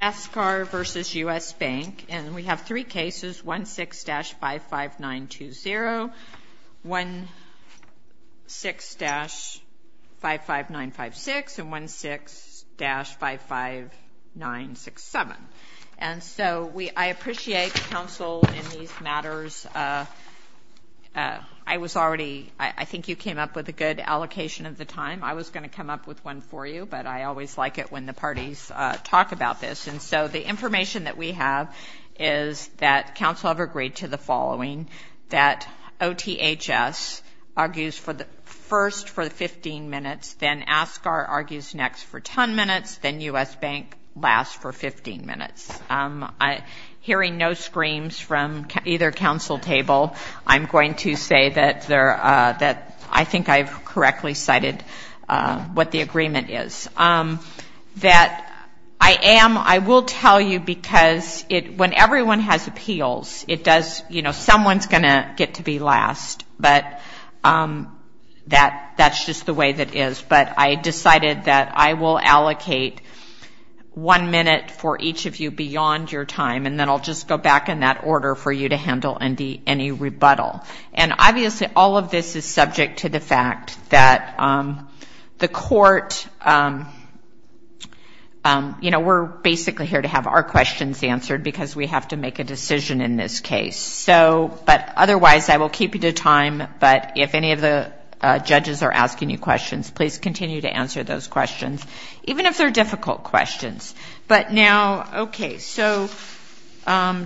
And we have three cases, 16-55920, 16-55956 and 16-55967. And so I appreciate counsel in these matters. I was already, I think you came up with a good allocation of the time. I was going to come up with one for you, but I always like it when the parties talk about this. And so the information that we have is that counsel have agreed to the following, that OTHS argues first for 15 minutes, then Ascar argues next for 10 minutes, then U.S. Bank lasts for 15 minutes. Hearing no screams from either counsel table, I'm going to say that I think I've correctly cited what the agreement is, that I am, I will tell you, because when everyone has appeals, it does, you know, someone's going to get to be last, but that's just the way that is. But I decided that I will allocate one minute for each of you beyond your time, and then I'll just go back in that order for you to handle any rebuttal. And obviously, all of this is subject to the fact that the court, you know, we're basically here to have our questions answered because we have to make a decision in this case. So, but otherwise, I will keep you to time, but if any of the judges are asking you questions, please continue to answer those questions, even if they're difficult questions. But now, okay, so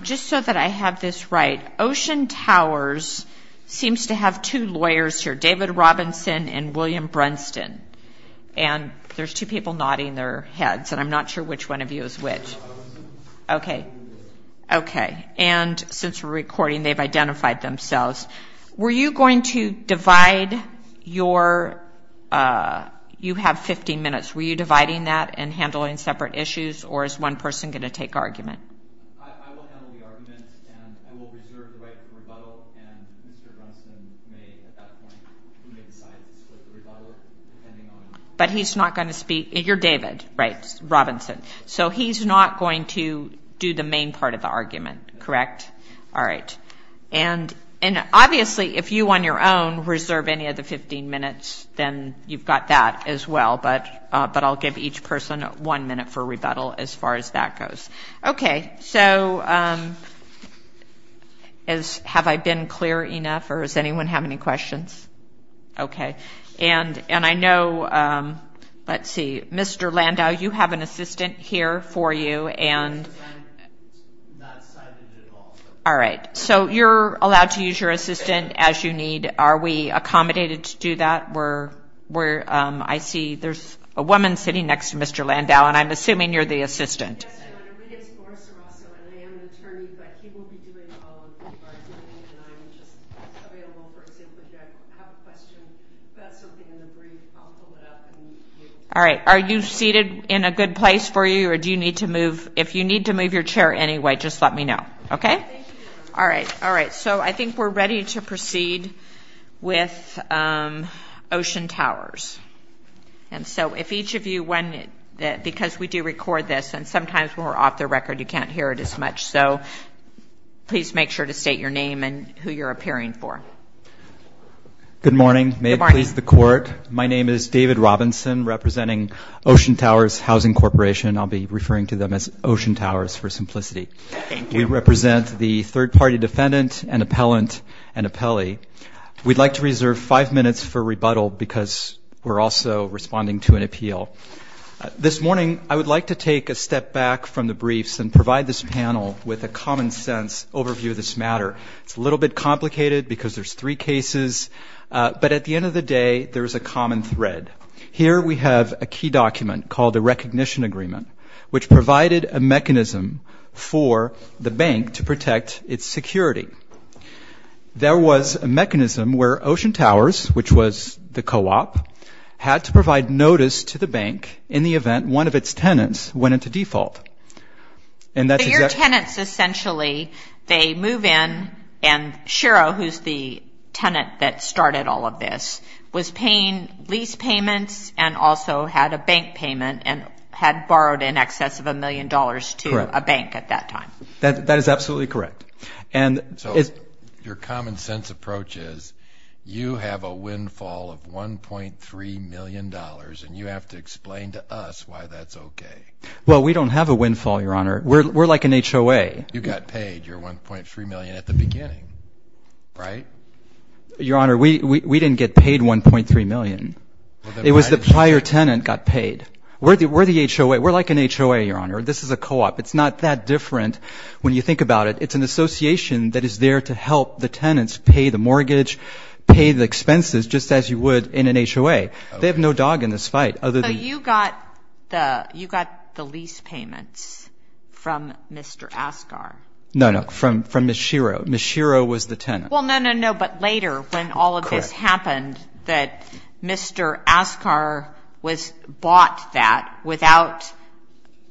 just so that I have this right, Ocean Towers seems to have two lawyers here, David Robinson and William Brunston, and there's two people nodding their heads, and I'm not sure which one of you is which. Okay, okay, and since we're recording, they've identified themselves. Were you going to divide your, you have 15 minutes, were you dividing that and handling separate issues, or is one person going to take argument? I will handle the argument, and I will reserve the right for rebuttal, and Mr. Brunston may, at that point, he may decide to split the rebuttal, depending on... But he's not going to speak, you're David, right, Robinson, so he's not going to do the main part of the argument, correct? All right, and obviously, if you on your own reserve any of the 15 minutes, then you've got that as well, but I'll give each person one minute for rebuttal, as far as that goes. Okay, so have I been clear enough, or does anyone have any questions? Okay, and I know, let's see, Mr. Landau, you have an assistant here for you, and... I'm not excited at all. All right, so you're allowed to use your assistant as you need. Are we accommodated to do that? We're... I see there's a woman sitting next to Mr. Landau, and I'm assuming you're the assistant. Yes, ma'am, and her name is Laura Sarasso, and I am an attorney, but he will be doing all of the bargaining, and I'm just available, for example, if you have a question about something in the brief, I'll pull it up, and you... All right, are you seated in a good place for you, or do you need to move? If you need to move your chair anyway, just let me know, okay? Thank you, ma'am. All right, all right, so I think we're ready to proceed with Ocean Towers. And so if each of you... Because we do record this, and sometimes when we're off the record, you can't hear it as much, so please make sure to state your name and who you're appearing for. Good morning. May it please the Court. My name is David Robinson, representing Ocean Towers Housing Corporation. I'll be referring to them as Ocean Towers for simplicity. Thank you. We represent the third-party defendant and appellant and appellee. We'd like to reserve five minutes for rebuttal, because we're also responding to an appeal. This morning, I would like to take a step back from the briefs and provide this panel with a common-sense overview of this matter. It's a little bit complicated, because there's three cases, but at the end of the day, there's a common thread. Here we have a key document called a recognition agreement, which provided a mechanism for the bank to protect its security. There was a mechanism where Ocean Towers, which was the co-op, had to provide notice to the bank in the event one of its tenants went into default. And that's exactly... So your tenants essentially, they move in, and Shero, who's the tenant that started all of this, was paying lease payments and also had a bank payment and had borrowed in excess of a million dollars to a bank at that time. That is absolutely correct. So your common-sense approach is you have a windfall of $1.3 million, and you have to explain to us why that's okay. Well, we don't have a windfall, Your Honor. We're like an HOA. You got paid your $1.3 million at the beginning, right? Your Honor, we didn't get paid $1.3 million. It was the prior tenant got paid. We're the HOA. We're like an HOA, Your Honor. This is a co-op. It's not that different when you think about it. It's an association that is there to help the tenants pay the mortgage, pay the expenses just as you would in an HOA. They have no dog in this fight other than... So you got the lease payments from Mr. Asghar. No, no, from Ms. Shero. Ms. Shero was the tenant. Well, no, no, no. But later when all of this happened, that Mr. Asghar was bought that without...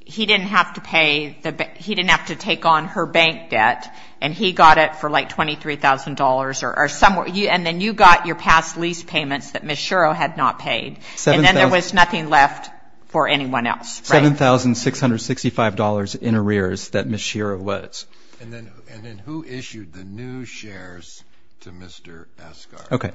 He didn't have to pay the... He didn't have to take on her bank debt, and he got it for like $23,000 or somewhere. And then you got your past lease payments that Ms. Shero had not paid. And then there was nothing left for anyone else, right? $7,665 in arrears that Ms. Shero was. And then who issued the new shares to Mr. Asghar? Okay.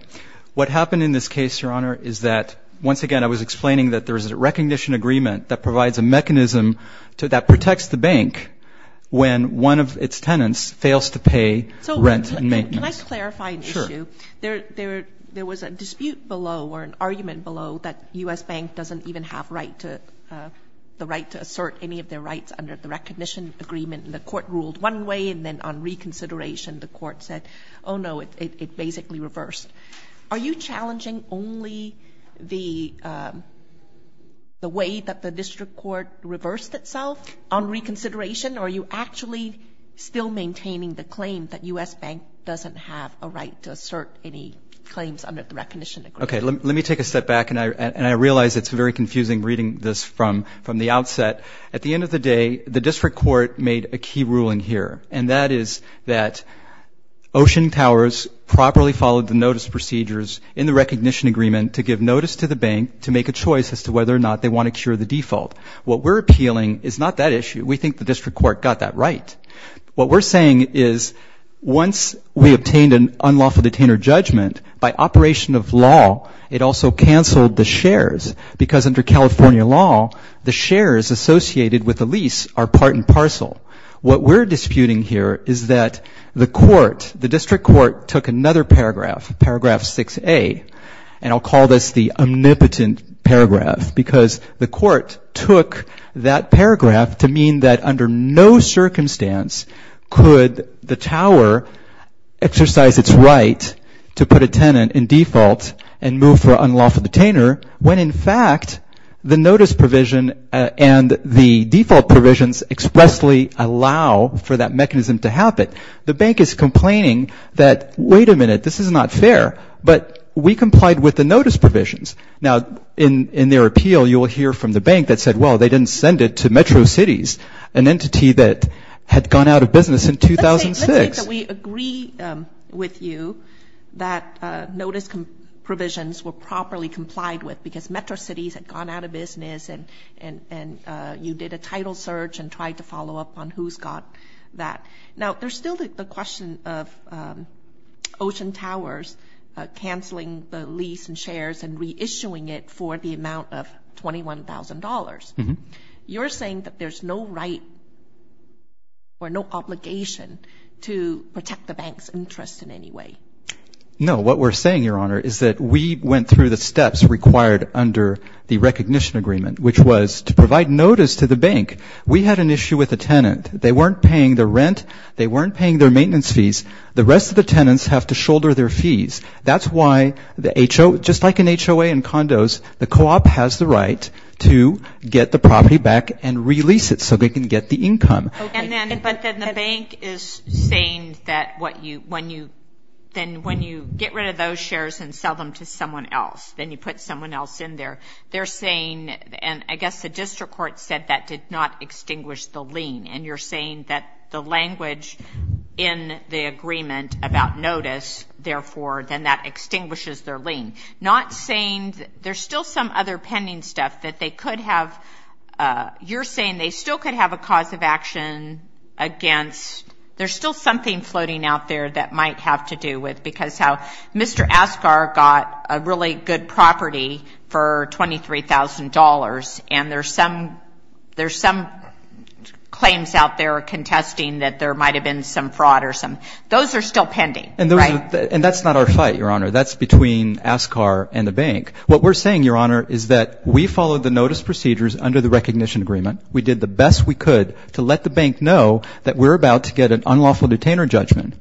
What happened in this case, Your Honor, is that, once again, I was explaining that there's a recognition agreement that provides a mechanism that protects the bank when one of its tenants fails to pay rent and maintenance. So can I clarify an issue? Sure. There was a dispute below or an argument below that U.S. Bank doesn't even have right to... the right to assert any of their rights under the recognition agreement. And the court ruled one way, and then on reconsideration, the court said, oh, no, it basically reversed. Are you challenging only the way that the district court reversed itself on reconsideration, or are you actually still maintaining the claim that U.S. Bank doesn't have a right to assert any claims under the recognition agreement? Okay, let me take a step back, and I realize it's very confusing reading this from the outset. At the end of the day, the district court made a key ruling here, and that is that Ocean Towers properly followed the notice procedures in the recognition agreement to give notice to the bank to make a choice as to whether or not they want to cure the default. What we're appealing is not that issue. We think the district court got that right. What we're saying is, once we obtained an unlawful detainer judgment, by operation of law, it also canceled the shares, because under California law, the shares associated with a lease are part and parcel. What we're disputing here is that the court, the district court, took another paragraph, Paragraph 6A, and I'll call this the omnipotent paragraph, because the court took that paragraph to mean that under no circumstance could the tower exercise its right to put a tenant in default and move for unlawful detainer, when in fact the notice provision and the default provisions expressly allow for that mechanism to happen. The bank is complaining that, wait a minute, this is not fair, but we complied with the notice provisions. Now, in their appeal, you will hear from the bank that said, well, they didn't send it to Metro Cities, an entity that had gone out of business in 2006. Let's say that we agree with you that notice provisions were properly complied with because Metro Cities had gone out of business and you did a title search and tried to follow up on who's got that. Now, there's still the question of Ocean Towers canceling the lease and shares and reissuing it for the amount of $21,000. You're saying that there's no right or no obligation to protect the bank's interest in any way. No. What we're saying, Your Honor, is that we went through the steps required under the recognition agreement, which was to provide notice to the bank. We had an issue with a tenant. They weren't paying the rent. They weren't paying their maintenance fees. The rest of the tenants have to shoulder their fees. That's why the HOA, just like an HOA in condos, the co-op has the right to get the property back and release it so they can get the income. But then the bank is saying that when you get rid of those shares and sell them to someone else, then you put someone else in there. They're saying, and I guess the district court said that did not extinguish the lien, and you're saying that the language in the agreement about notice, therefore, then that extinguishes their lien. Not saying... There's still some other pending stuff that they could have... You're saying they still could have a cause of action against... There's still something floating out there that might have to do with... Because how Mr. Askar got a really good property for $23,000, and there's some claims out there contesting that there might have been some fraud or some... Those are still pending, right? And that's not our fight, Your Honor. That's between Askar and the bank. What we're saying, Your Honor, is that we followed the notice procedures under the recognition agreement. We did the best we could to let the bank know that we're about to get an unlawful detainer judgment,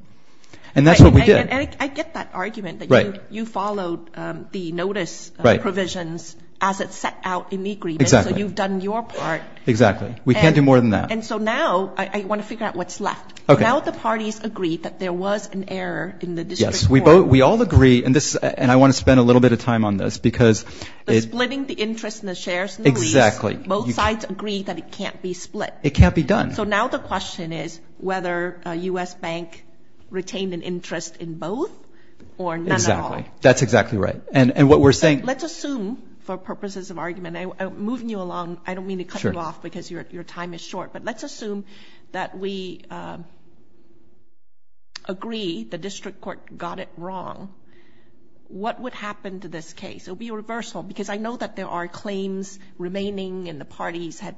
and that's what we did. And I get that argument that you followed the notice provisions as it set out in the agreement. Exactly. So you've done your part. Exactly. We can't do more than that. And so now I want to figure out what's left. Now the parties agree that there was an error in the district court. Yes, we all agree, and I want to spend a little bit of time on this, because... The splitting the interest and the shares and the lease. Exactly. Both sides agree that it can't be split. It can't be done. So now the question is whether a U.S. bank retained an interest in both or none at all. Exactly. That's exactly right. And what we're saying... Let's assume, for purposes of argument, moving you along, I don't mean to cut you off because your time is short, but let's assume that we agree the district court got it wrong. What would happen to this case? It would be a reversal, because I know that there are claims remaining and the parties had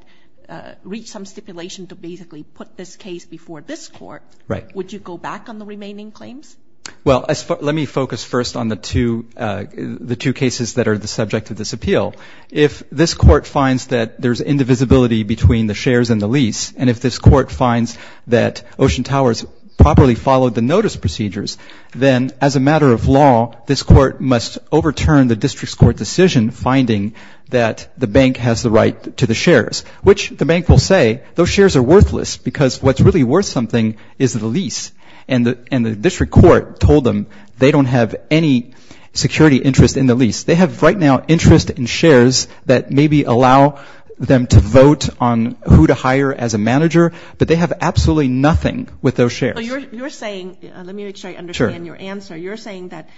reached some stipulation to basically put this case before this court. Right. Would you go back on the remaining claims? Well, let me focus first on the two cases that are the subject of this appeal. If this court finds that there's indivisibility between the shares and the lease, and if this court finds that Ocean Towers properly followed the notice procedures, then as a matter of law, this court must overturn the district court decision finding that the bank has the right to the shares, which the bank will say those shares are worthless because what's really worth something is the lease. And the district court told them they don't have any security interest in the lease. They have right now interest in shares that maybe allow them to vote on who to hire as a manager, but they have absolutely nothing with those shares. You're saying... Let me make sure I understand your answer. You're saying that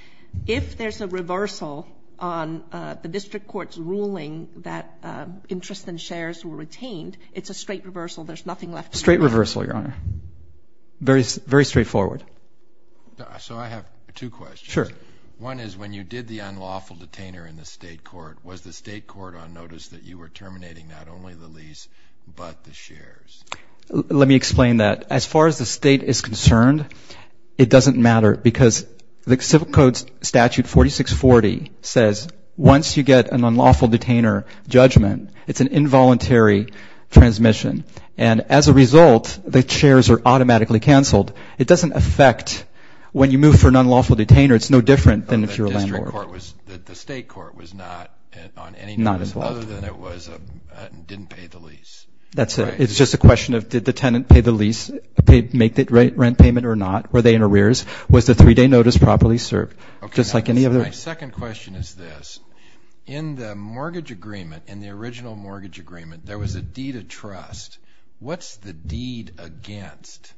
if there's a reversal on the district court's ruling that interest in shares were retained, it's a straight reversal, there's nothing left... Straight reversal, Your Honor. Very straightforward. So I have two questions. Sure. One is when you did the unlawful detainer in the state court, was the state court on notice that you were terminating not only the lease, but the shares? Let me explain that. As far as the state is concerned, it doesn't matter because the Civil Code Statute 4640 says once you get an unlawful detainer judgment, it's an involuntary transmission. And as a result, the shares are automatically canceled. It doesn't affect... When you move for an unlawful detainer, it's no different than if you're a landlord. The state court was not on any notice... Not involved. ...other than it didn't pay the lease. That's it. It's just a question of, did the tenant pay the lease, make the rent payment or not? Were they in arrears? Was the three-day notice properly served? Just like any other... My second question is this. In the mortgage agreement, in the original mortgage agreement, there was a deed of trust. What's the deed against?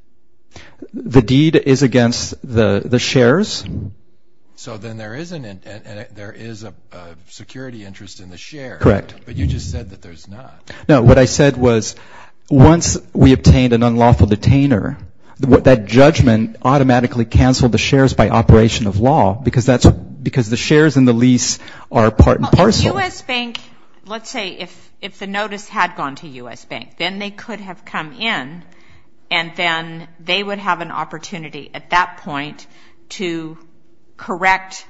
The deed is against the shares. So then there is a security interest in the share. Correct. But you just said that there's not. No, what I said was once we obtained an unlawful detainer, that judgment automatically canceled the shares by operation of law because the shares in the lease are part and parcel. The U.S. Bank... Let's say if the notice had gone to U.S. Bank, then they could have come in and then they would have an opportunity at that point to correct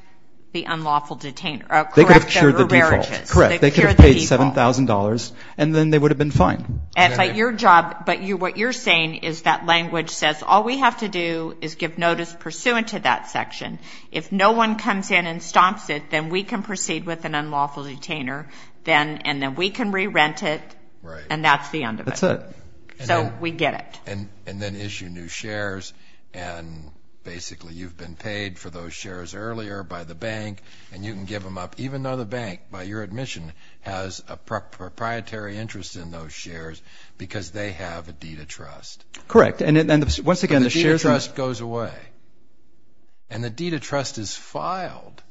the unlawful detainer... They could have cured the default. Correct. They could have paid $7,000 and then they would have been fine. But your job... But what you're saying is that language says all we have to do is give notice pursuant to that section. If no one comes in and stops it, then we can proceed with an unlawful detainer and then we can re-rent it and that's the end of it. That's it. So we get it. And then issue new shares and basically you've been paid for those shares earlier by the bank and you can give them up even though the bank, by your admission, has a proprietary interest in those shares because they have a deed of trust. Correct. And once again, the shares... But the deed of trust goes away. And the deed of trust is filed.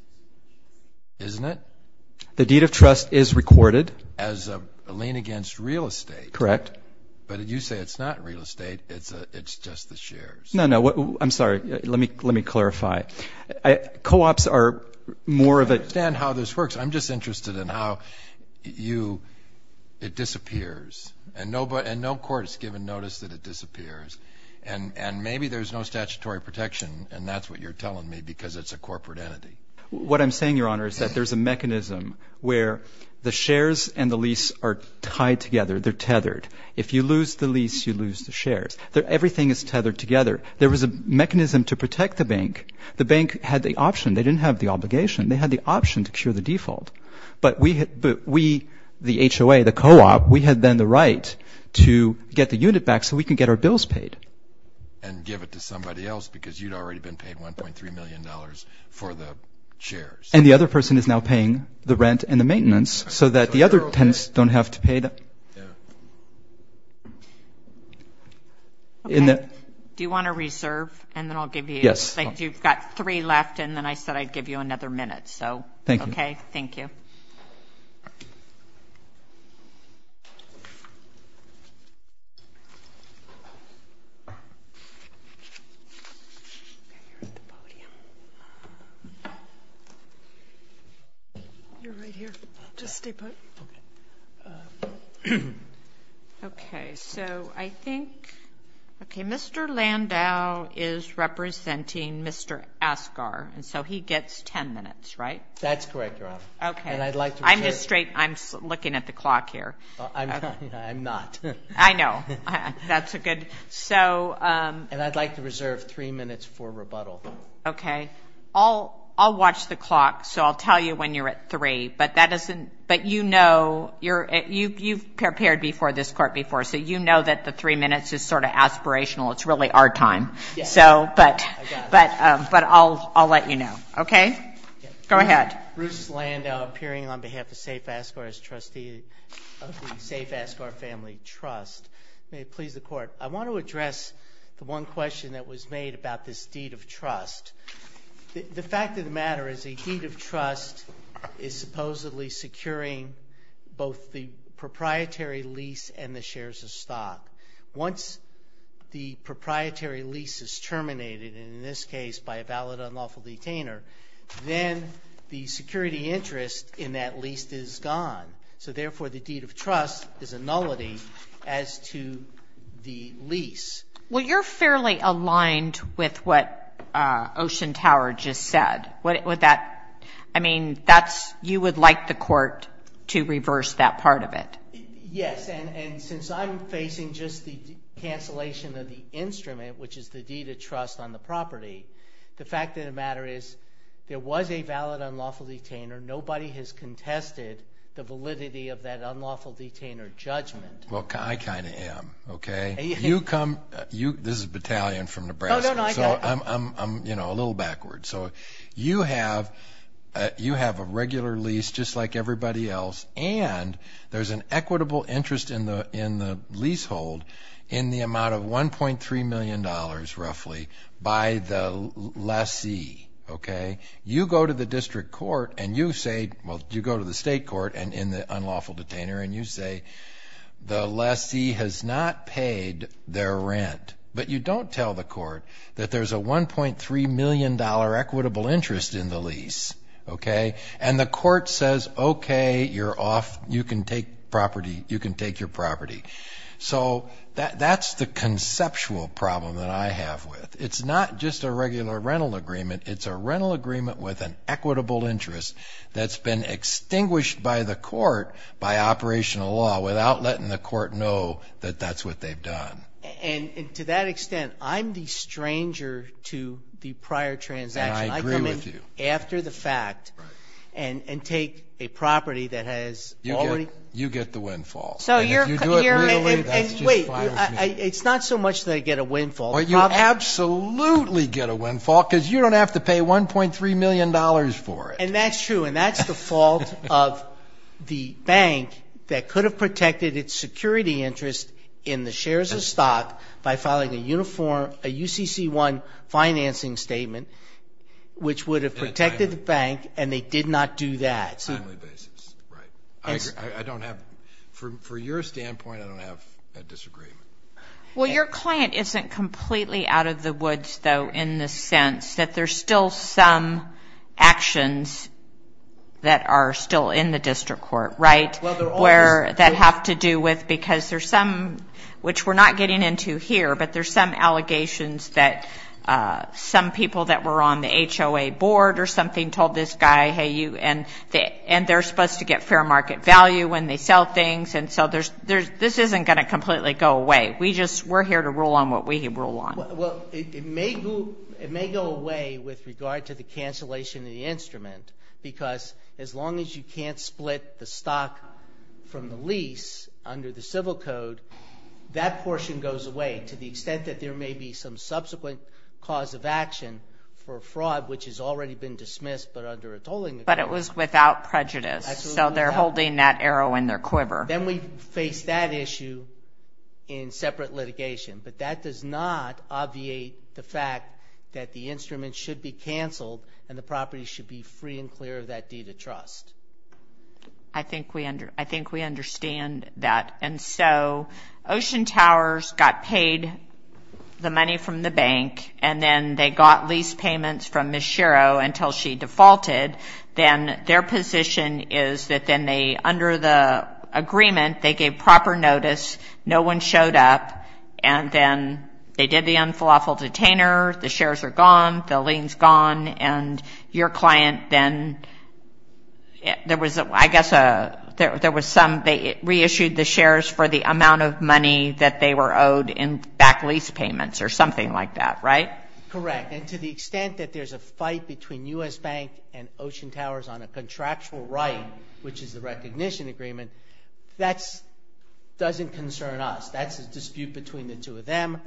Isn't it? The deed of trust is recorded. As a lien against real estate. Correct. But you say it's not real estate. It's just the shares. No, no. I'm sorry. Let me clarify. Co-ops are more of a... I understand how this works. I'm just interested in how you... It disappears. And no court has given notice that it disappears. And maybe there's no statutory protection and that's what you're telling me because it's a corporate entity. What I'm saying, Your Honor, is that there's a mechanism where the shares and the lease are tied together. They're tethered. If you lose the lease, you lose the shares. Everything is tethered together. There was a mechanism to protect the bank. The bank had the option. They didn't have the obligation. They had the option to cure the default. But we, the HOA, the co-op, we had then the right to get the unit back so we can get our bills paid. And give it to somebody else because you'd already been paid $1.3 million for the shares. And the other person is now paying the rent and the maintenance so that the other tenants don't have to pay that. Yeah. Okay. Do you want to reserve? And then I'll give you... Yes. You've got three left and then I said I'd give you another minute, so... Thank you. Okay, thank you. Okay. Okay, you're at the podium. You're right here. Just stay put. Okay. Okay, so I think... Okay, Mr. Landau is representing Mr. Asgar, That's correct, Your Honor. Okay. And I'd like to reserve... I'm just straight... I'm looking at the clock here. I'm not. I know. That's a good... So... And I'd like to reserve three minutes for rebuttal. Okay. I'll watch the clock so I'll tell you when you're at three. But that doesn't... But you know... You've prepared before this court before so you know that the three minutes is sort of aspirational. It's really our time. Yes. So, but... I got it. But I'll let you know. Okay? Go ahead. Bruce Landau, appearing on behalf of Safe Asgar as trustee of the Safe Asgar Family Trust. May it please the court. I want to address the one question that was made about this deed of trust. The fact of the matter is a deed of trust is supposedly securing both the proprietary lease and the shares of stock. Once the proprietary lease is terminated, and in this case by a valid unlawful detainer, then the security interest in that lease is gone. So, therefore, the deed of trust is a nullity as to the lease. Well, you're fairly aligned with what Ocean Tower just said. Would that... I mean, that's... You would like the court to reverse that part of it. Yes, and since I'm facing just the cancellation of the instrument, which is the deed of trust on the property, the fact of the matter is there was a valid unlawful detainer. Nobody has contested the validity of that unlawful detainer judgment. Well, I kind of am, okay? You come... This is Battalion from Nebraska, so I'm, you know, a little backwards. So you have a regular lease, just like everybody else, and there's an equitable interest in the leasehold in the amount of $1.3 million, roughly, by the lessee, okay? You go to the district court and you say... Well, you go to the state court and in the unlawful detainer, and you say the lessee has not paid their rent, but you don't tell the court that there's a $1.3 million equitable interest in the lease, okay? And the court says, okay, you're off. You can take property. You can take your property. So that's the conceptual problem that I have with. It's not just a regular rental agreement. It's a rental agreement with an equitable interest that's been extinguished by the court by operational law without letting the court know that that's what they've done. And to that extent, I'm the stranger to the prior transaction. And I agree with you. I come in after the fact and take a property that has already... You get the windfall. So you're... And if you do it legally, that's just fine with me. It's not so much that I get a windfall. Well, you absolutely get a windfall because you don't have to pay $1.3 million for it. And that's true, and that's the fault of the bank that could have protected its security interest in the shares of stock by filing a UCC-1 financing statement, which would have protected the bank, and they did not do that. On a timely basis, right. I don't have... Well, your client isn't completely out of the woods, though, in the sense that there's still some actions that are still in the district court, right? Well, they're always... Where... That have to do with... Because there's some... Which we're not getting into here, but there's some allegations that some people that were on the HOA board or something told this guy, hey, you... And they're supposed to get fair market value when they sell things, and so there's... This isn't gonna completely go away. We just... We're here to rule on what we rule on. Well, it may go... It may go away with regard to the cancellation of the instrument, because as long as you can't split the stock from the lease under the civil code, that portion goes away, to the extent that there may be some subsequent cause of action for a fraud which has already been dismissed, but under a tolling agreement. But it was without prejudice. Absolutely without prejudice. So they're holding that arrow in their quiver. Then we face that issue in separate litigation, but that does not obviate the fact that the instrument should be canceled and the property should be free and clear of that deed of trust. I think we under... I think we understand that. And so Ocean Towers got paid the money from the bank, and then they got lease payments from Ms. Shero until she defaulted. Then their position is that then they, under the agreement, they gave proper notice, no one showed up, and then they did the unflawful detainer, the shares are gone, the lien's gone, and your client then... There was, I guess, a... There was some... They reissued the shares for the amount of money that they were owed in back lease payments or something like that, right? Correct. And to the extent that there's a fight between U.S. Bank and Ocean Towers on a contractual right, which is the recognition agreement, that doesn't concern us. That's a dispute between the two of them.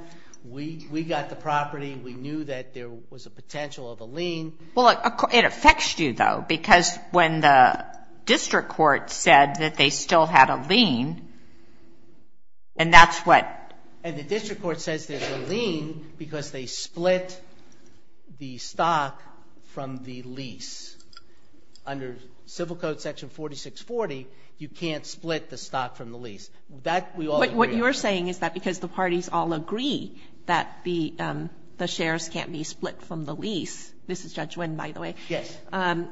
We got the property. We knew that there was a potential of a lien. Well, it affects you, though, because when the district court said that they still had a lien, and that's what... And the district court says there's a lien because they split the stock from the lease. Under Civil Code section 4640, you can't split the stock from the lease. That, we all agree on. But what you're saying is that because the parties all agree that the shares can't be split from the lease... This is Judge Wynn, by the way. Yes.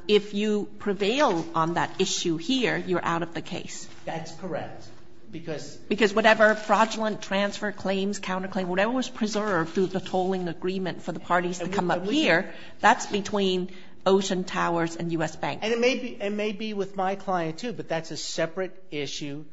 If you prevail on that issue here, you're out of the case. That's correct, because... Because whatever fraudulent transfer claims, counterclaim, whatever was preserved through the tolling agreement for the parties to come up here, that's between Ocean Towers and U.S. Bank. And it may be with my client, too, but that's a separate issue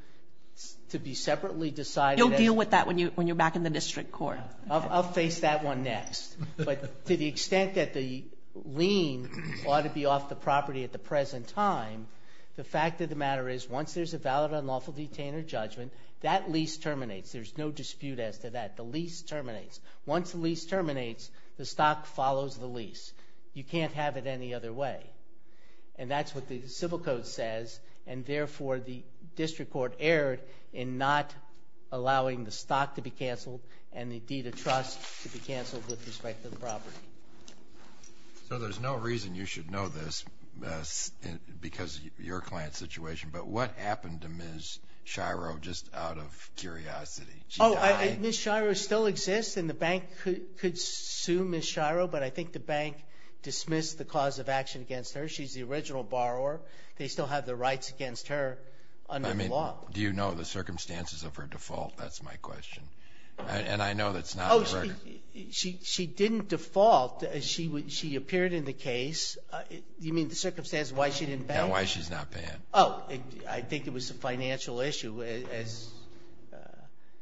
to be separately decided. You'll deal with that when you're back in the district court. I'll face that one next. But to the extent that the lien ought to be off the property at the present time, the fact of the matter is once there's a valid unlawful detainer judgment, that lease terminates. There's no dispute as to that. The lease terminates. Once the lease terminates, the stock follows the lease. You can't have it any other way. And that's what the civil code says, and therefore the district court erred in not allowing the stock to be canceled and the deed of trust to be canceled with respect to the property. So there's no reason you should know this because of your client's situation, but what happened to Ms. Shiro just out of curiosity? Oh, Ms. Shiro still exists, and the bank could sue Ms. Shiro, but I think the bank dismissed the cause of action against her. She's the original borrower. They still have the rights against her under the law. I mean, do you know the circumstances of her default? That's my question. And I know that's not on the record. Oh, she didn't default. She appeared in the case. You mean the circumstances of why she didn't pay? Yeah, why she's not paying. Oh, I think it was a financial issue as...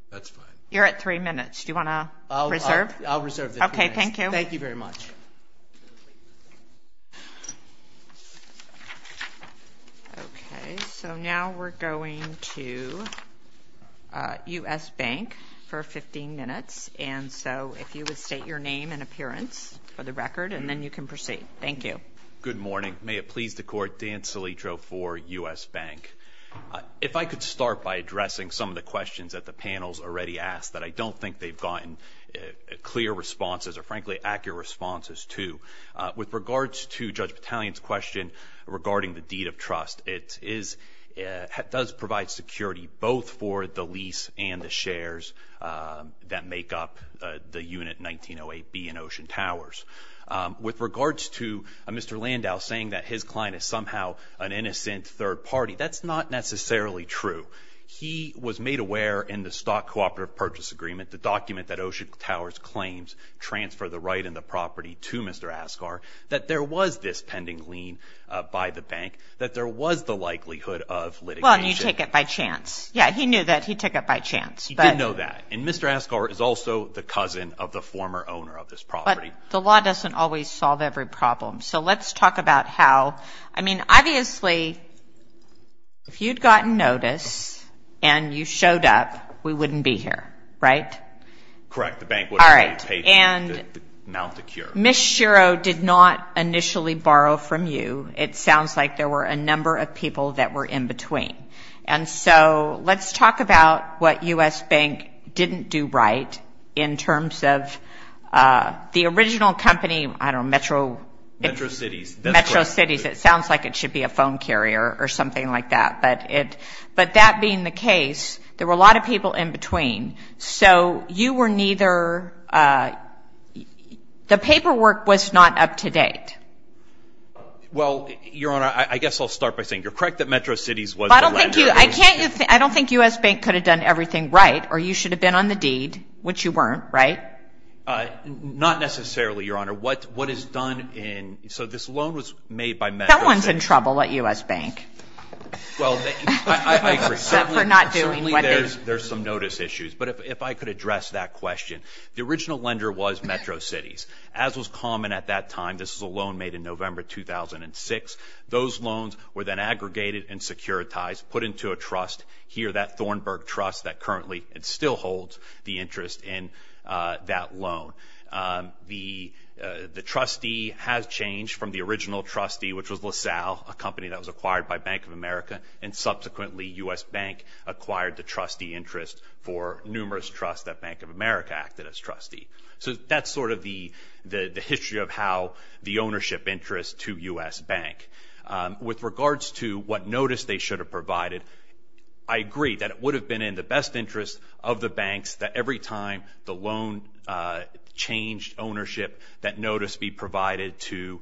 That's fine. You're at three minutes. Do you want to reserve? I'll reserve the three minutes. Okay, thank you. Thank you very much. Okay, so now we're going to U.S. Bank for 15 minutes, and so if you would state your name and appearance for the record, and then you can proceed. Thank you. Good morning. May it please the court, Dan Silitro for U.S. Bank. If I could start by addressing some of the questions that the panel's already asked that I don't think they've gotten clear responses or frankly accurate responses to. With regards to Judge Battalion's question regarding the deed of trust, it does provide security both for the lease and the shares that make up the unit 1908B in Ocean Towers. With regards to Mr. Landau saying that his client is somehow an innocent third party, that's not necessarily true. He was made aware in the Stock Cooperative Purchase Agreement, the document that Ocean Towers claims transfer the right and the property to Mr. Asghar, that there was this pending lien by the bank, that there was the likelihood of litigation. Well, and you take it by chance. Yeah, he knew that. He took it by chance. He did know that. And Mr. Asghar is also the cousin of the former owner of this property. But the law doesn't always solve every problem, so let's talk about how. I mean, obviously, if you'd gotten notice and you showed up, we wouldn't be here, right? Correct. The bank would have already paid you to mount the cure. Ms. Shiro did not initially borrow from you. It sounds like there were a number of people that were in between. And so let's talk about what U.S. Bank didn't do right in terms of the original company, I don't know, Metro... Metro Cities. Metro Cities. It sounds like it should be a phone carrier or something like that. But that being the case, there were a lot of people in between. So you were neither... The paperwork was not up to date. Well, Your Honor, I guess I'll start by saying you're correct that Metro Cities was the lender. But I don't think you... I don't think U.S. Bank could have done everything right or you should have been on the deed, which you weren't, right? Not necessarily, Your Honor. What is done in... So this loan was made by Metro Cities. Someone's in trouble at U.S. Bank. Well, I agree. For not doing what they... Certainly there's some notice issues. But if I could address that question. The original lender was Metro Cities. As was common at that time, this was a loan made in November 2006. Those loans were then aggregated and securitized, put into a trust here, that Thornburg Trust that currently still holds the interest in that loan. The trustee has changed from the original trustee, which was LaSalle, a company that was acquired by Bank of America, and subsequently U.S. Bank acquired the trustee interest for numerous trusts that Bank of America acted as trustee. So that's sort of the history of how the ownership interest to U.S. Bank. With regards to what notice they should have provided, I agree that it would have been in the best interest of the banks that every time the loan changed ownership, that notice be provided to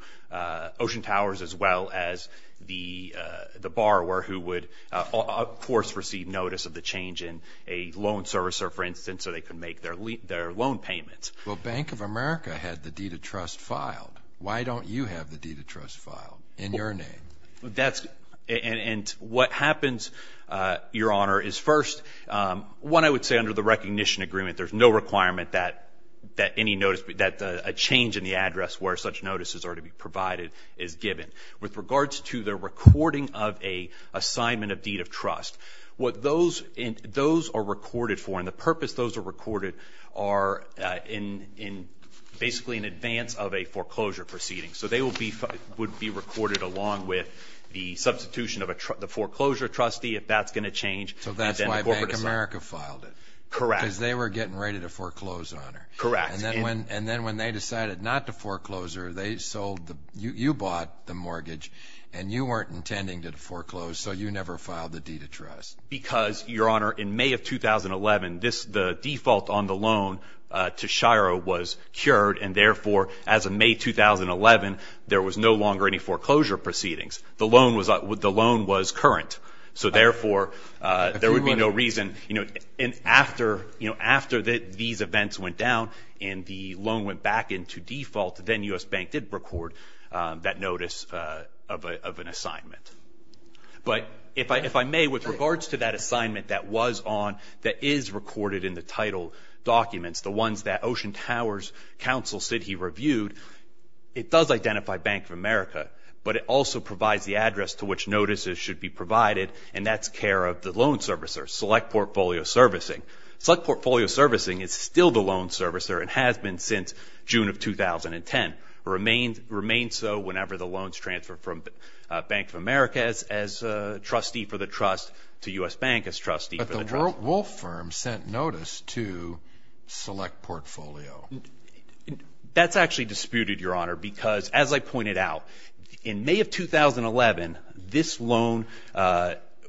Ocean Towers as well as the borrower who would, of course, receive notice of the change in a loan servicer, for instance, so they could make their loan payments. Well, Bank of America had the deed of trust filed. Why don't you have the deed of trust filed in your name? That's... And what happens, Your Honor, is first, one, I would say under the recognition agreement, there's no requirement that any notice... that a change in the address where such notices are to be provided is given. With regards to the recording of a assignment of deed of trust, what those are recorded for and the purpose those are recorded are basically in advance of a foreclosure proceeding. So they would be recorded along with the substitution of the foreclosure trustee if that's going to change. So that's why Bank of America filed it. Correct. Because they were getting ready to foreclose on her. Correct. And then when they decided not to foreclose her, they sold the... You bought the mortgage and you weren't intending to foreclose, so you never filed the deed of trust. Because, Your Honor, in May of 2011, the default on the loan to Shiro was cured and therefore as of May 2011, there was no longer any foreclosure proceedings. The loan was current. So therefore, there would be no reason... And after these events went down and the loan went back into default, then U.S. Bank did record that notice of an assignment. But if I may, with regards to that assignment that was on, that is recorded in the title documents, the ones that Ocean Towers Counsel said he reviewed, it does identify Bank of America, but it also provides the address to which notices should be provided and that's care of the loan servicer, Select Portfolio Servicing. Select Portfolio Servicing is still the loan servicer and has been since June of 2010. It remains so whenever the loans transfer from Bank of America as trustee for the trust to U.S. Bank as trustee for the trust. But the Wolf Firm sent notice to Select Portfolio. That's actually disputed, Your Honor, because as I pointed out, in May of 2011, this loan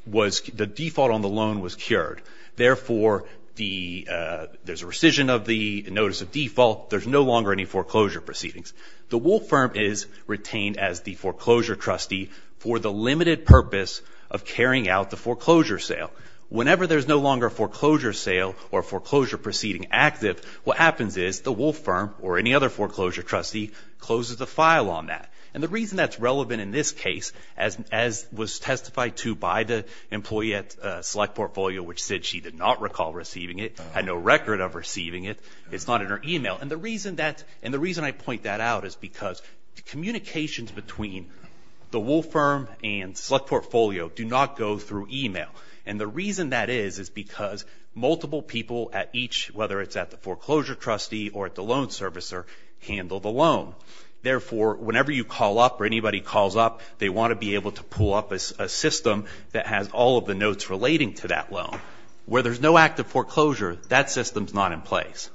was... the default on the loan was cured. Therefore, there's a rescission of the notice of default. There's no longer any foreclosure proceedings. The Wolf Firm is retained as the foreclosure trustee for the limited purpose of carrying out the foreclosure sale. Whenever there's no longer a foreclosure sale or a foreclosure proceeding active, what happens is the Wolf Firm or any other foreclosure trustee closes the file on that. And the reason that's relevant in this case as was testified to by the employee at Select Portfolio, which said she did not recall receiving it, had no record of receiving it, it's not in her email. And the reason that... and the reason I point that out is because communications between the Wolf Firm and Select Portfolio do not go through email. And the reason that is, is because multiple people at each, whether it's at the foreclosure trustee or at the loan servicer, handle the loan. Therefore, whenever you call up or anybody calls up, they want to be able to pull up a system that has all of the notes relating to that loan. Where there's no active foreclosure, that system's not in place.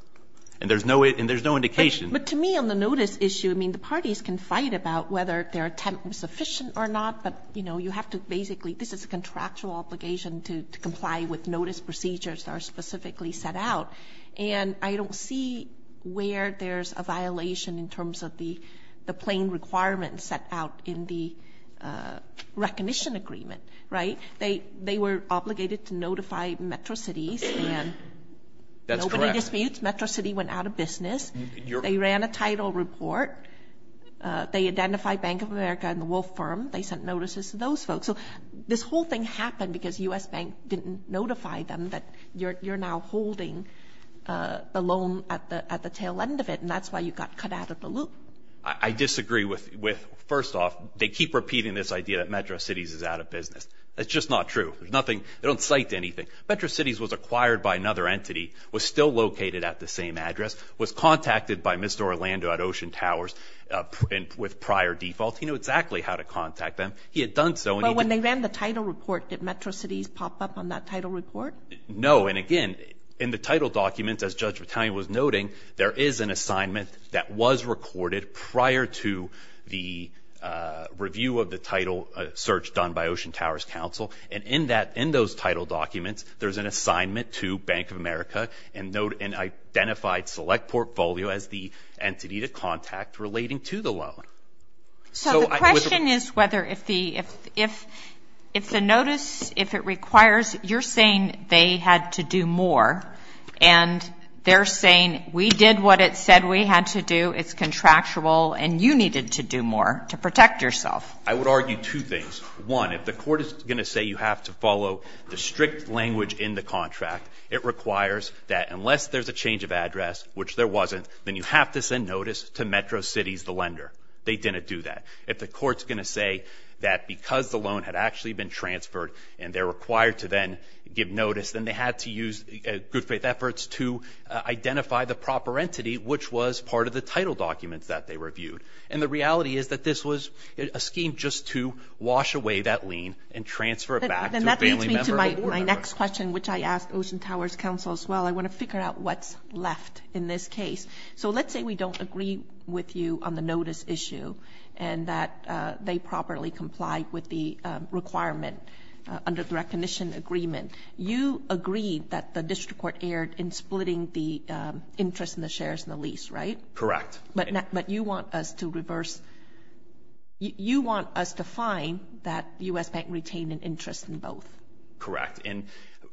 And there's no indication... But to me, on the notice issue, I mean, the parties can fight about whether their attempt was sufficient or not, but, you know, you have to basically... this is a contractual obligation to comply with notice procedures that are specifically set out. And I don't see where there's a violation in terms of the plain requirements set out in the recognition agreement, right? They were obligated to notify Metro Cities, and... That's correct. Nobody disputes. Metro City went out of business. They ran a title report. They identified Bank of America and the Wolf Firm. They sent notices to those folks. So this whole thing happened because U.S. Bank didn't notify them that you're now holding the loan at the tail end of it, and that's why you got cut out of the loop. I disagree with... First off, they keep repeating this idea that Metro Cities is out of business. That's just not true. There's nothing... They don't cite anything. Metro Cities was acquired by another entity, was still located at the same address, was contacted by Mr. Orlando at Ocean Towers with prior default. He knew exactly how to contact them. He had done so... But when they ran the title report, did Metro Cities pop up on that title report? No, and again, in the title document, as Judge Vitale was noting, there is an assignment that was recorded prior to the review of the title search done by Ocean Towers Council. And in that... In those title documents, there's an assignment to Bank of America and identified select portfolio as the entity to contact relating to the loan. So I... So the question is whether if the... If the notice... If it requires... You're saying they had to do more, and they're saying, we did what it said we had to do, it's contractual, and you needed to do more to protect yourself. I would argue two things. One, if the court is gonna say you have to follow the strict language in the contract, it requires that unless there's a change of address, which there wasn't, then you have to send notice to Metro Cities, the lender. They didn't do that. If the court's gonna say that because the loan had actually been transferred and they're required to then give notice, then they had to use good faith efforts to identify the proper entity, which was part of the title documents that they reviewed. And the reality is that this was a scheme just to wash away that lien and transfer it back to a family member. And that leads me to my next question, which I asked Ocean Towers Council as well. I want to figure out what's left in this case. So let's say we don't agree with you on the notice issue and that they properly complied with the requirement under the recognition agreement. You agreed that the district court erred in splitting the interest in the shares and the lease, right? Correct. But you want us to reverse... You want us to find that U.S. Bank retained an interest in both. Correct. And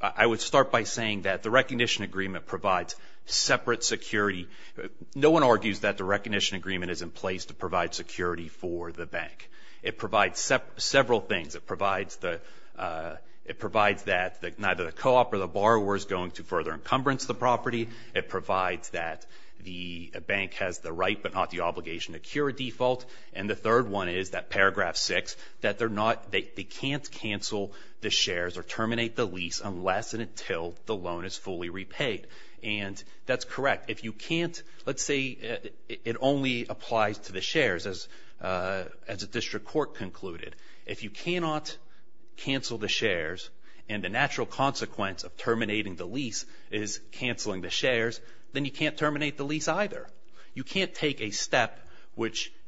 I would start by saying that the recognition agreement provides separate security. No one argues that the recognition agreement is in place to provide security for the bank. It provides several things. It provides that neither the co-op or the borrower is going to further encumbrance the property. It provides that the bank has the right but not the obligation to cure a default. And the third one is, that paragraph 6, that they can't cancel the shares or terminate the lease unless and until the loan is fully repaid. And that's correct. If you can't... Let's say it only applies to the shares, as the district court concluded. If you cannot cancel the shares and the natural consequence of terminating the lease is canceling the shares, then you can't terminate the lease either. You can't take a step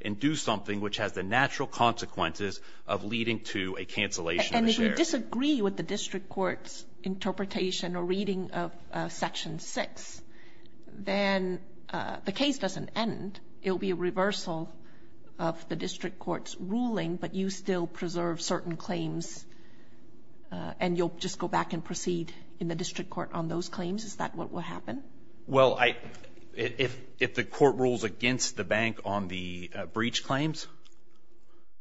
and do something which has the natural consequences of leading to a cancellation of the shares. And if you disagree with the district court's interpretation or reading of Section 6, then the case doesn't end. It'll be a reversal of the district court's ruling, but you still preserve certain claims and you'll just go back and proceed in the district court on those claims? Is that what will happen? Well, if the court rules against the bank on the breach claims...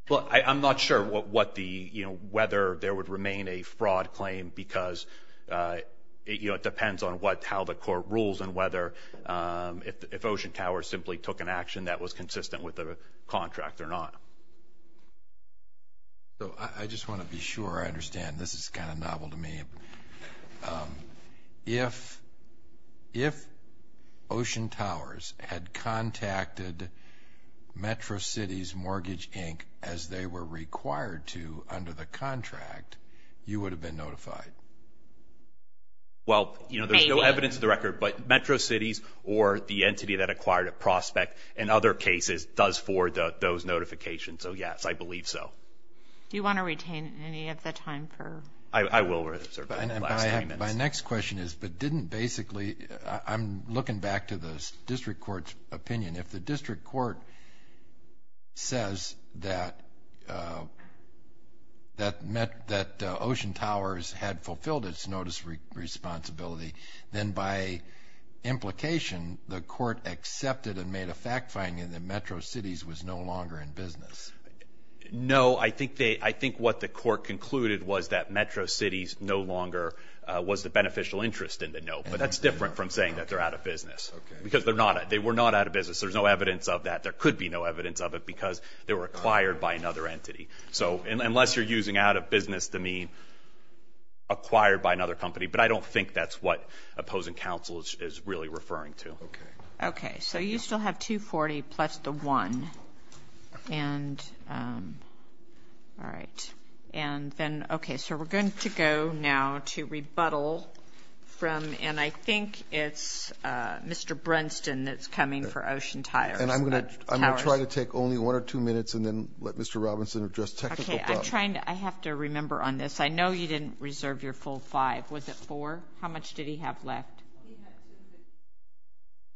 I'm not sure whether there would remain a fraud claim because it depends on how the court rules and whether... if Ocean Towers simply took an action that was consistent with the contract or not. So I just want to be sure I understand. This is kind of novel to me. If...if Ocean Towers had contacted Metro Cities Mortgage Inc. as they were required to under the contract, you would have been notified? Well, you know, there's no evidence of the record, but Metro Cities or the entity that acquired a prospect in other cases does forward those notifications so yes, I believe so. Do you want to retain any of the time for... I will reserve the last ten minutes. My next question is, but didn't basically... I'm looking back to the district court's opinion. If the district court says that... that met... that Ocean Towers had fulfilled its notice responsibility, then by implication, the court accepted and made a fact finding that Metro Cities was no longer in business. No, I think they... I think what the court concluded was that Metro Cities no longer was the beneficial interest in the note, but that's different from saying that they're out of business because they're not... they were not out of business. There's no evidence of that. There could be no evidence of it because they were acquired by another entity. So unless you're using out of business to mean acquired by another company, but I don't think that's what opposing counsel is really referring to. Okay. Okay, so you still have $240,000 plus the one. And, um... All right. And then, okay, so we're going to go now to rebuttal from... and I think it's, uh, Mr. Brunston that's coming for Ocean Towers. And I'm gonna try to take only one or two minutes and then let Mr. Robinson address technical problems. Okay, I'm trying to... I have to remember on this. I know you didn't reserve your full five. Was it four? How much did he have left?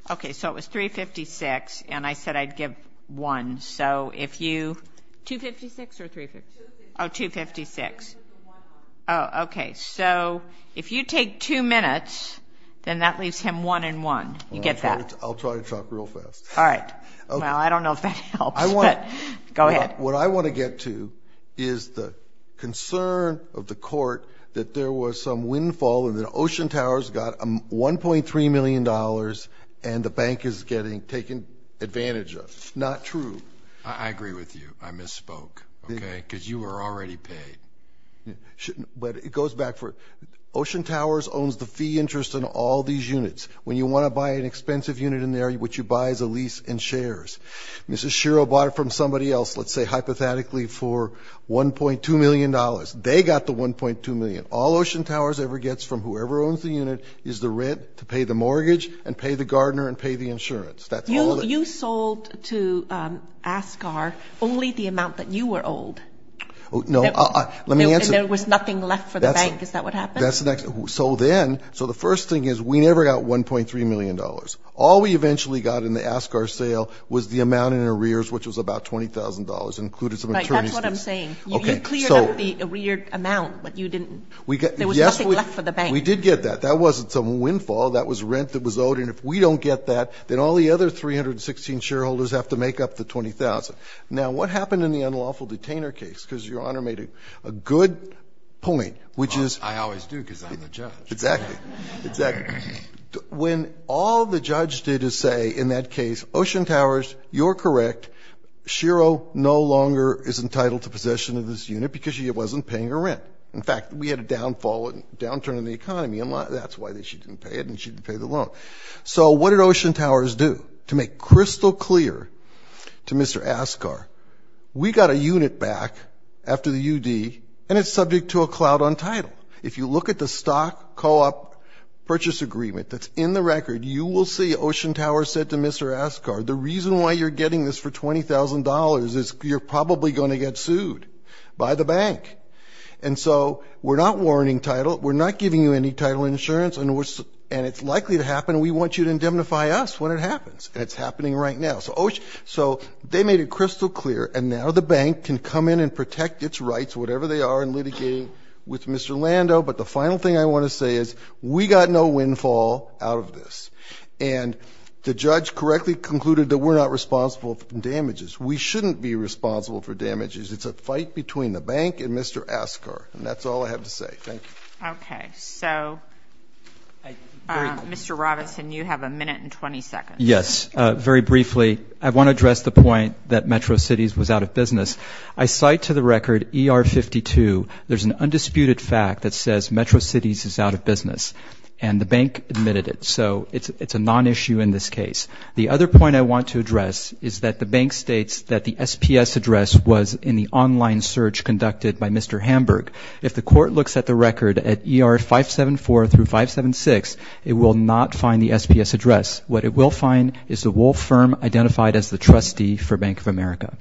Okay, so it was $356,000, and I said I'd give one, so if you... $256,000 or $356,000? Oh, $256,000. Oh, okay, so if you take two minutes, then that leaves him one and one. You get that? I'll try to talk real fast. All right. Well, I don't know if that helps, but go ahead. What I want to get to is the concern of the court that there was some windfall and that Ocean Towers got $1.3 million and the bank is getting... taking advantage of. Not true. I agree with you. I misspoke, okay? Because you were already paid. But it goes back for... Ocean Towers owns the fee interest in all these units. When you want to buy an expensive unit in there, what you buy is a lease in shares. Mrs. Schiro bought it from somebody else, let's say hypothetically, for $1.2 million. They got the $1.2 million. All Ocean Towers ever gets from whoever owns the unit is the rent to pay the mortgage and pay the gardener and pay the insurance. You sold to Ascar only the amount that you were owed. No, let me answer... And there was nothing left for the bank. Is that what happened? That's the next... So then... So the first thing is we never got $1.3 million. All we eventually got in the Ascar sale was the amount in arrears, which was about $20,000, included some attorney's fees. Right, that's what I'm saying. You cleared up the arreared amount, but you didn't... There was nothing left for the bank. We did get that. That wasn't some windfall. That was rent that was owed, and if we don't get that, then all the other 316 shareholders have to make up the $20,000. Now, what happened in the unlawful detainer case? Because Your Honor made a good point, which is... Well, I always do, because I'm the judge. Exactly. Exactly. When all the judge did is say, in that case, Ocean Towers, you're correct, Schiro no longer is entitled to possession of this unit because she wasn't paying her rent. In fact, we had a downturn in the economy, and that's why she didn't pay it, and she didn't pay the loan. So what did Ocean Towers do? To make crystal clear to Mr. Ascar, we got a unit back after the UD, and it's subject to a cloud on title. If you look at the stock co-op purchase agreement that's in the record, you will see Ocean Towers said to Mr. Ascar, the reason why you're getting this for $20,000 is you're probably going to get sued by the bank. And so we're not warranting title, we're not giving you any title insurance, and it's likely to happen, and we want you to indemnify us when it happens. And it's happening right now. So they made it crystal clear, and now the bank can come in and protect its rights, whatever they are, in litigating with Mr. Lando. But the final thing I want to say is, we got no windfall out of this. And the judge correctly concluded that we're not responsible for the damages. We shouldn't be responsible for damages. It's a fight between the bank and Mr. Ascar. And that's all I have to say. Thank you. Okay. So, Mr. Robinson, you have a minute and 20 seconds. Yes. Very briefly, I want to address the point that Metro Cities was out of business. I cite to the record ER-52. There's an undisputed fact that says Metro Cities is out of business, and the bank admitted it. So it's a non-issue in this case. The other point I want to address is that the bank states that the SPS address was in the online search conducted by Mr. Hamburg. If the court looks at the record at ER-574 through 576, it will not find the SPS address. What it will find is the Wolf Firm identified as the trustee for Bank of America.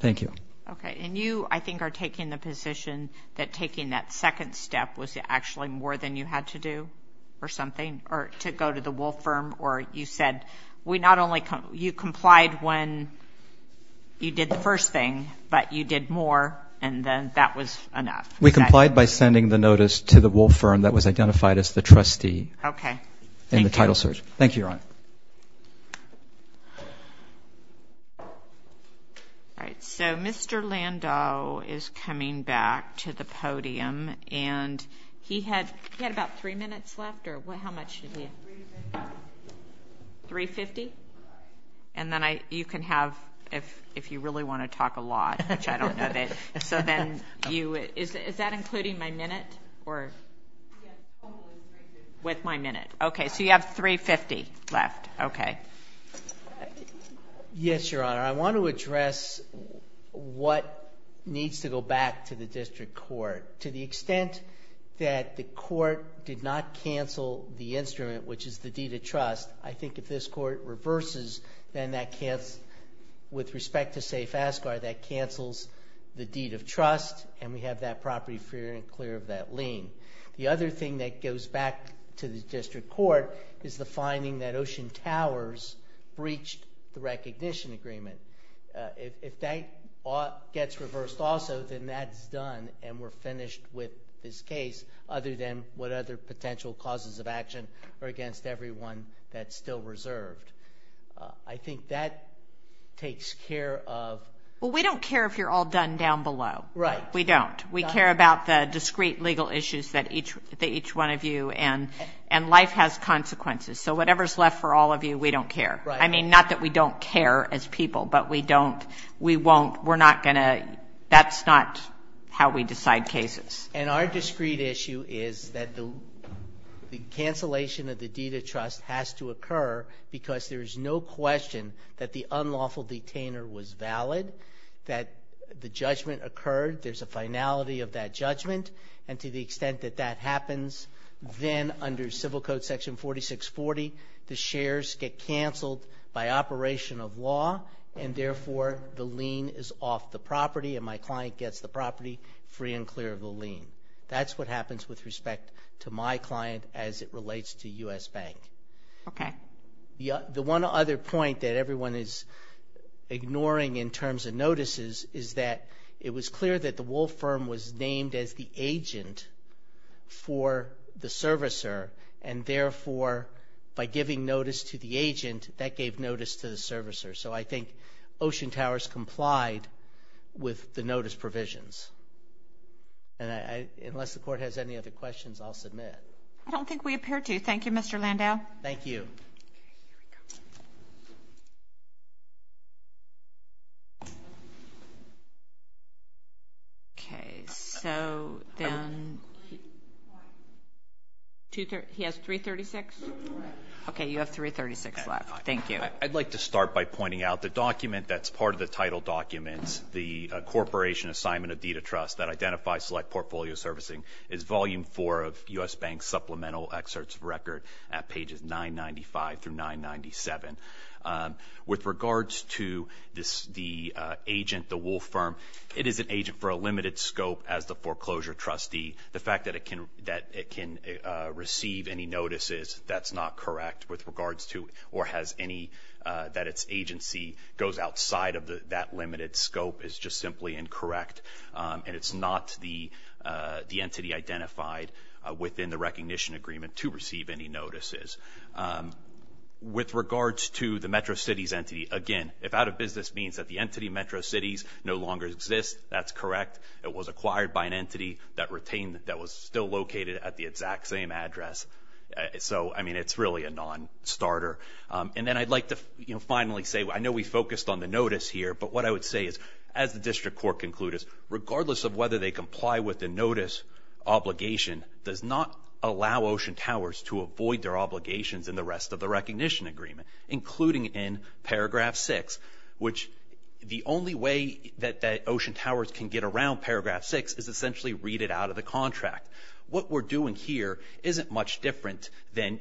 Thank you. Okay, and you, I think, are taking the position that taking that second step was actually more than you had to do or something, or to go to the Wolf Firm, or you said, we not only, you complied when you did the first thing, but you did more, and then that was enough. We complied by sending the notice to the Wolf Firm that was identified as the trustee. Okay. In the title search. Thank you, Your Honor. All right, so Mr. Landau is coming back to the podium, and he had about three minutes left, or how much did he have? 350. 350? Right. And then I, you can have, if you really want to talk a lot, which I don't know that, so then you, is that including my minute, or? Yes, totally 350. With my minute. Okay, so you have 350 left. Okay. Yes, Your Honor. I want to address what needs to go back to the district court. To the extent that the court did not cancel the instrument, which is the deed of trust, I think if this court reverses, then that cancels, with respect to, say, FASCAR, that cancels the deed of trust, and we have that property free and clear of that lien. The other thing that goes back to the district court is the finding that Ocean Towers breached the recognition agreement. If that gets reversed also, then that's done, and we're finished with this case, other than what other potential causes of action are against everyone that's still reserved. I think that takes care of... Well, we don't care if you're all done down below. Right. We don't. We care about the discrete legal issues that each one of you, and life has consequences, so whatever's left for all of you, we don't care. I mean, not that we don't care as people, but we don't, we won't, we're not gonna, that's not how we decide cases. And our discrete issue is that the cancellation of the deed of trust has to occur because there's no question that the unlawful detainer was valid, that the judgment occurred, there's a finality of that judgment, and to the extent that that happens, then under Civil Code Section 4640, the shares get cancelled by operation of law, and therefore, the lien is off the property, and my client gets the property free and clear of the lien. That's what happens with respect to my client as it relates to U.S. Bank. Okay. The one other point that everyone is ignoring in terms of notices is that it was clear that the Wolf Firm was named as the agent for the servicer, and therefore, by giving notice to the agent, that gave notice to the servicer, so I think Ocean Towers complied with the notice provisions. And I, unless the court has any other questions, I'll submit. I don't think we appear to. Thank you, Mr. Landau. Thank you. Okay. So then... He has 336? Okay. You have 336 left. Thank you. I'd like to start by pointing out the document that's part of the title document, the Corporation Assignment of Deed of Trust that identifies Select Portfolio Servicing is Volume 4 of U.S. Bank's Supplemental Excerpts of Record at pages 995 through 997. With regards to the agent, the Wolf Firm, it is an agent for a limited scope as the foreclosure trustee. The fact that it can receive any notices, that's not correct with regards to or has any that its agency goes outside of that limited scope is just simply incorrect, and it's not the entity identified within the recognition agreement to receive any notices. With regards to the Metro Cities entity, again, if out of business means that the entity Metro Cities no longer exists, that's correct. It was acquired by an entity that retained that was still located at the exact same address. So, I mean, it's really a non-starter. And then I'd like to finally say, I know we focused on the notice here, but what I would say is as the District Court concluded, regardless of whether they comply with the notice obligation, does not allow Ocean Towers to avoid their obligations in the rest of the recognition agreement, including in paragraph six, which the only way that Ocean Towers can get around paragraph six is essentially read it out of the contract. What we're doing here isn't much different than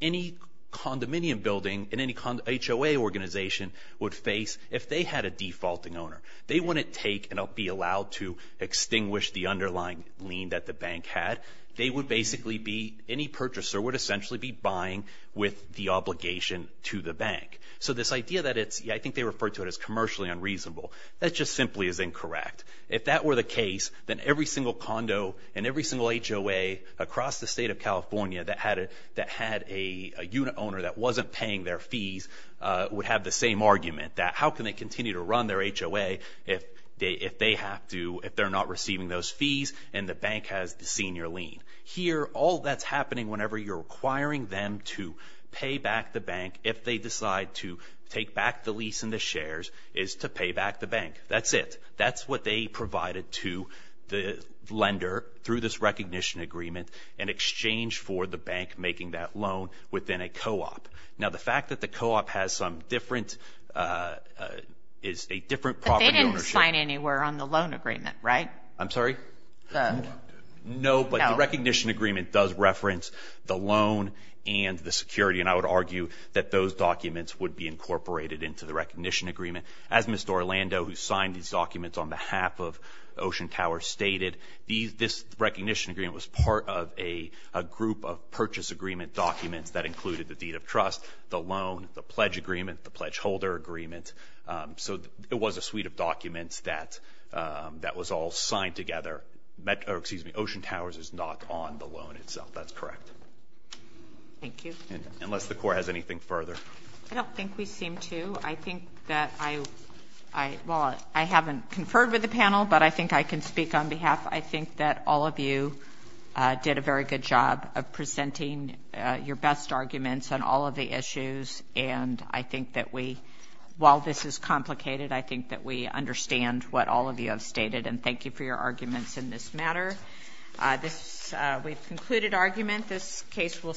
any condominium building in any HOA organization would face if they had a defaulting owner. They wouldn't be able to then take and be allowed to extinguish the underlying lien that the bank had. They would basically be, any purchaser would essentially be buying with the obligation to the bank. So this idea that it's, I think they refer to it as commercially unreasonable, that just simply is incorrect. If that were the case, then every single condo and every single HOA across the state of California that had a unit owner that wasn't paying their fees would have the same liability as the HOA if they have to, if they're not receiving those fees and the bank has the senior lien. Here, all that's happening whenever you're requiring them to pay back the bank if they decide to take back the lease and the shares is to pay back the bank. That's it. That's what they provided to the lender through this recognition agreement in exchange for the bank making that loan within a co-op. Now the fact that the co-op has some different, is a different property ownership. But they didn't sign anywhere on the loan agreement, right? I'm sorry? No, but the recognition agreement does reference the loan and the security and I would argue that those documents would be incorporated into the recognition agreement. As Mr. Orlando who signed these documents on behalf of Ocean Tower stated, this recognition agreement was part of a group of purchase agreement documents that included the deed of trust, the loan, the pledge agreement, the pledge holder agreement. So it was a suite of documents that was all signed together. Excuse me, Ocean Tower is not on the loan itself. That's correct. Thank you. Unless the court has anything further. I don't think we seem to. I think that I haven't conferred with the panel, but I think I can speak on behalf. I think that all of you did a very good job of presenting your best arguments on all of the issues and I think that we while this is complicated, I think that we understand what all of you have stated and thank you for your arguments in this matter. We've concluded argument. This case will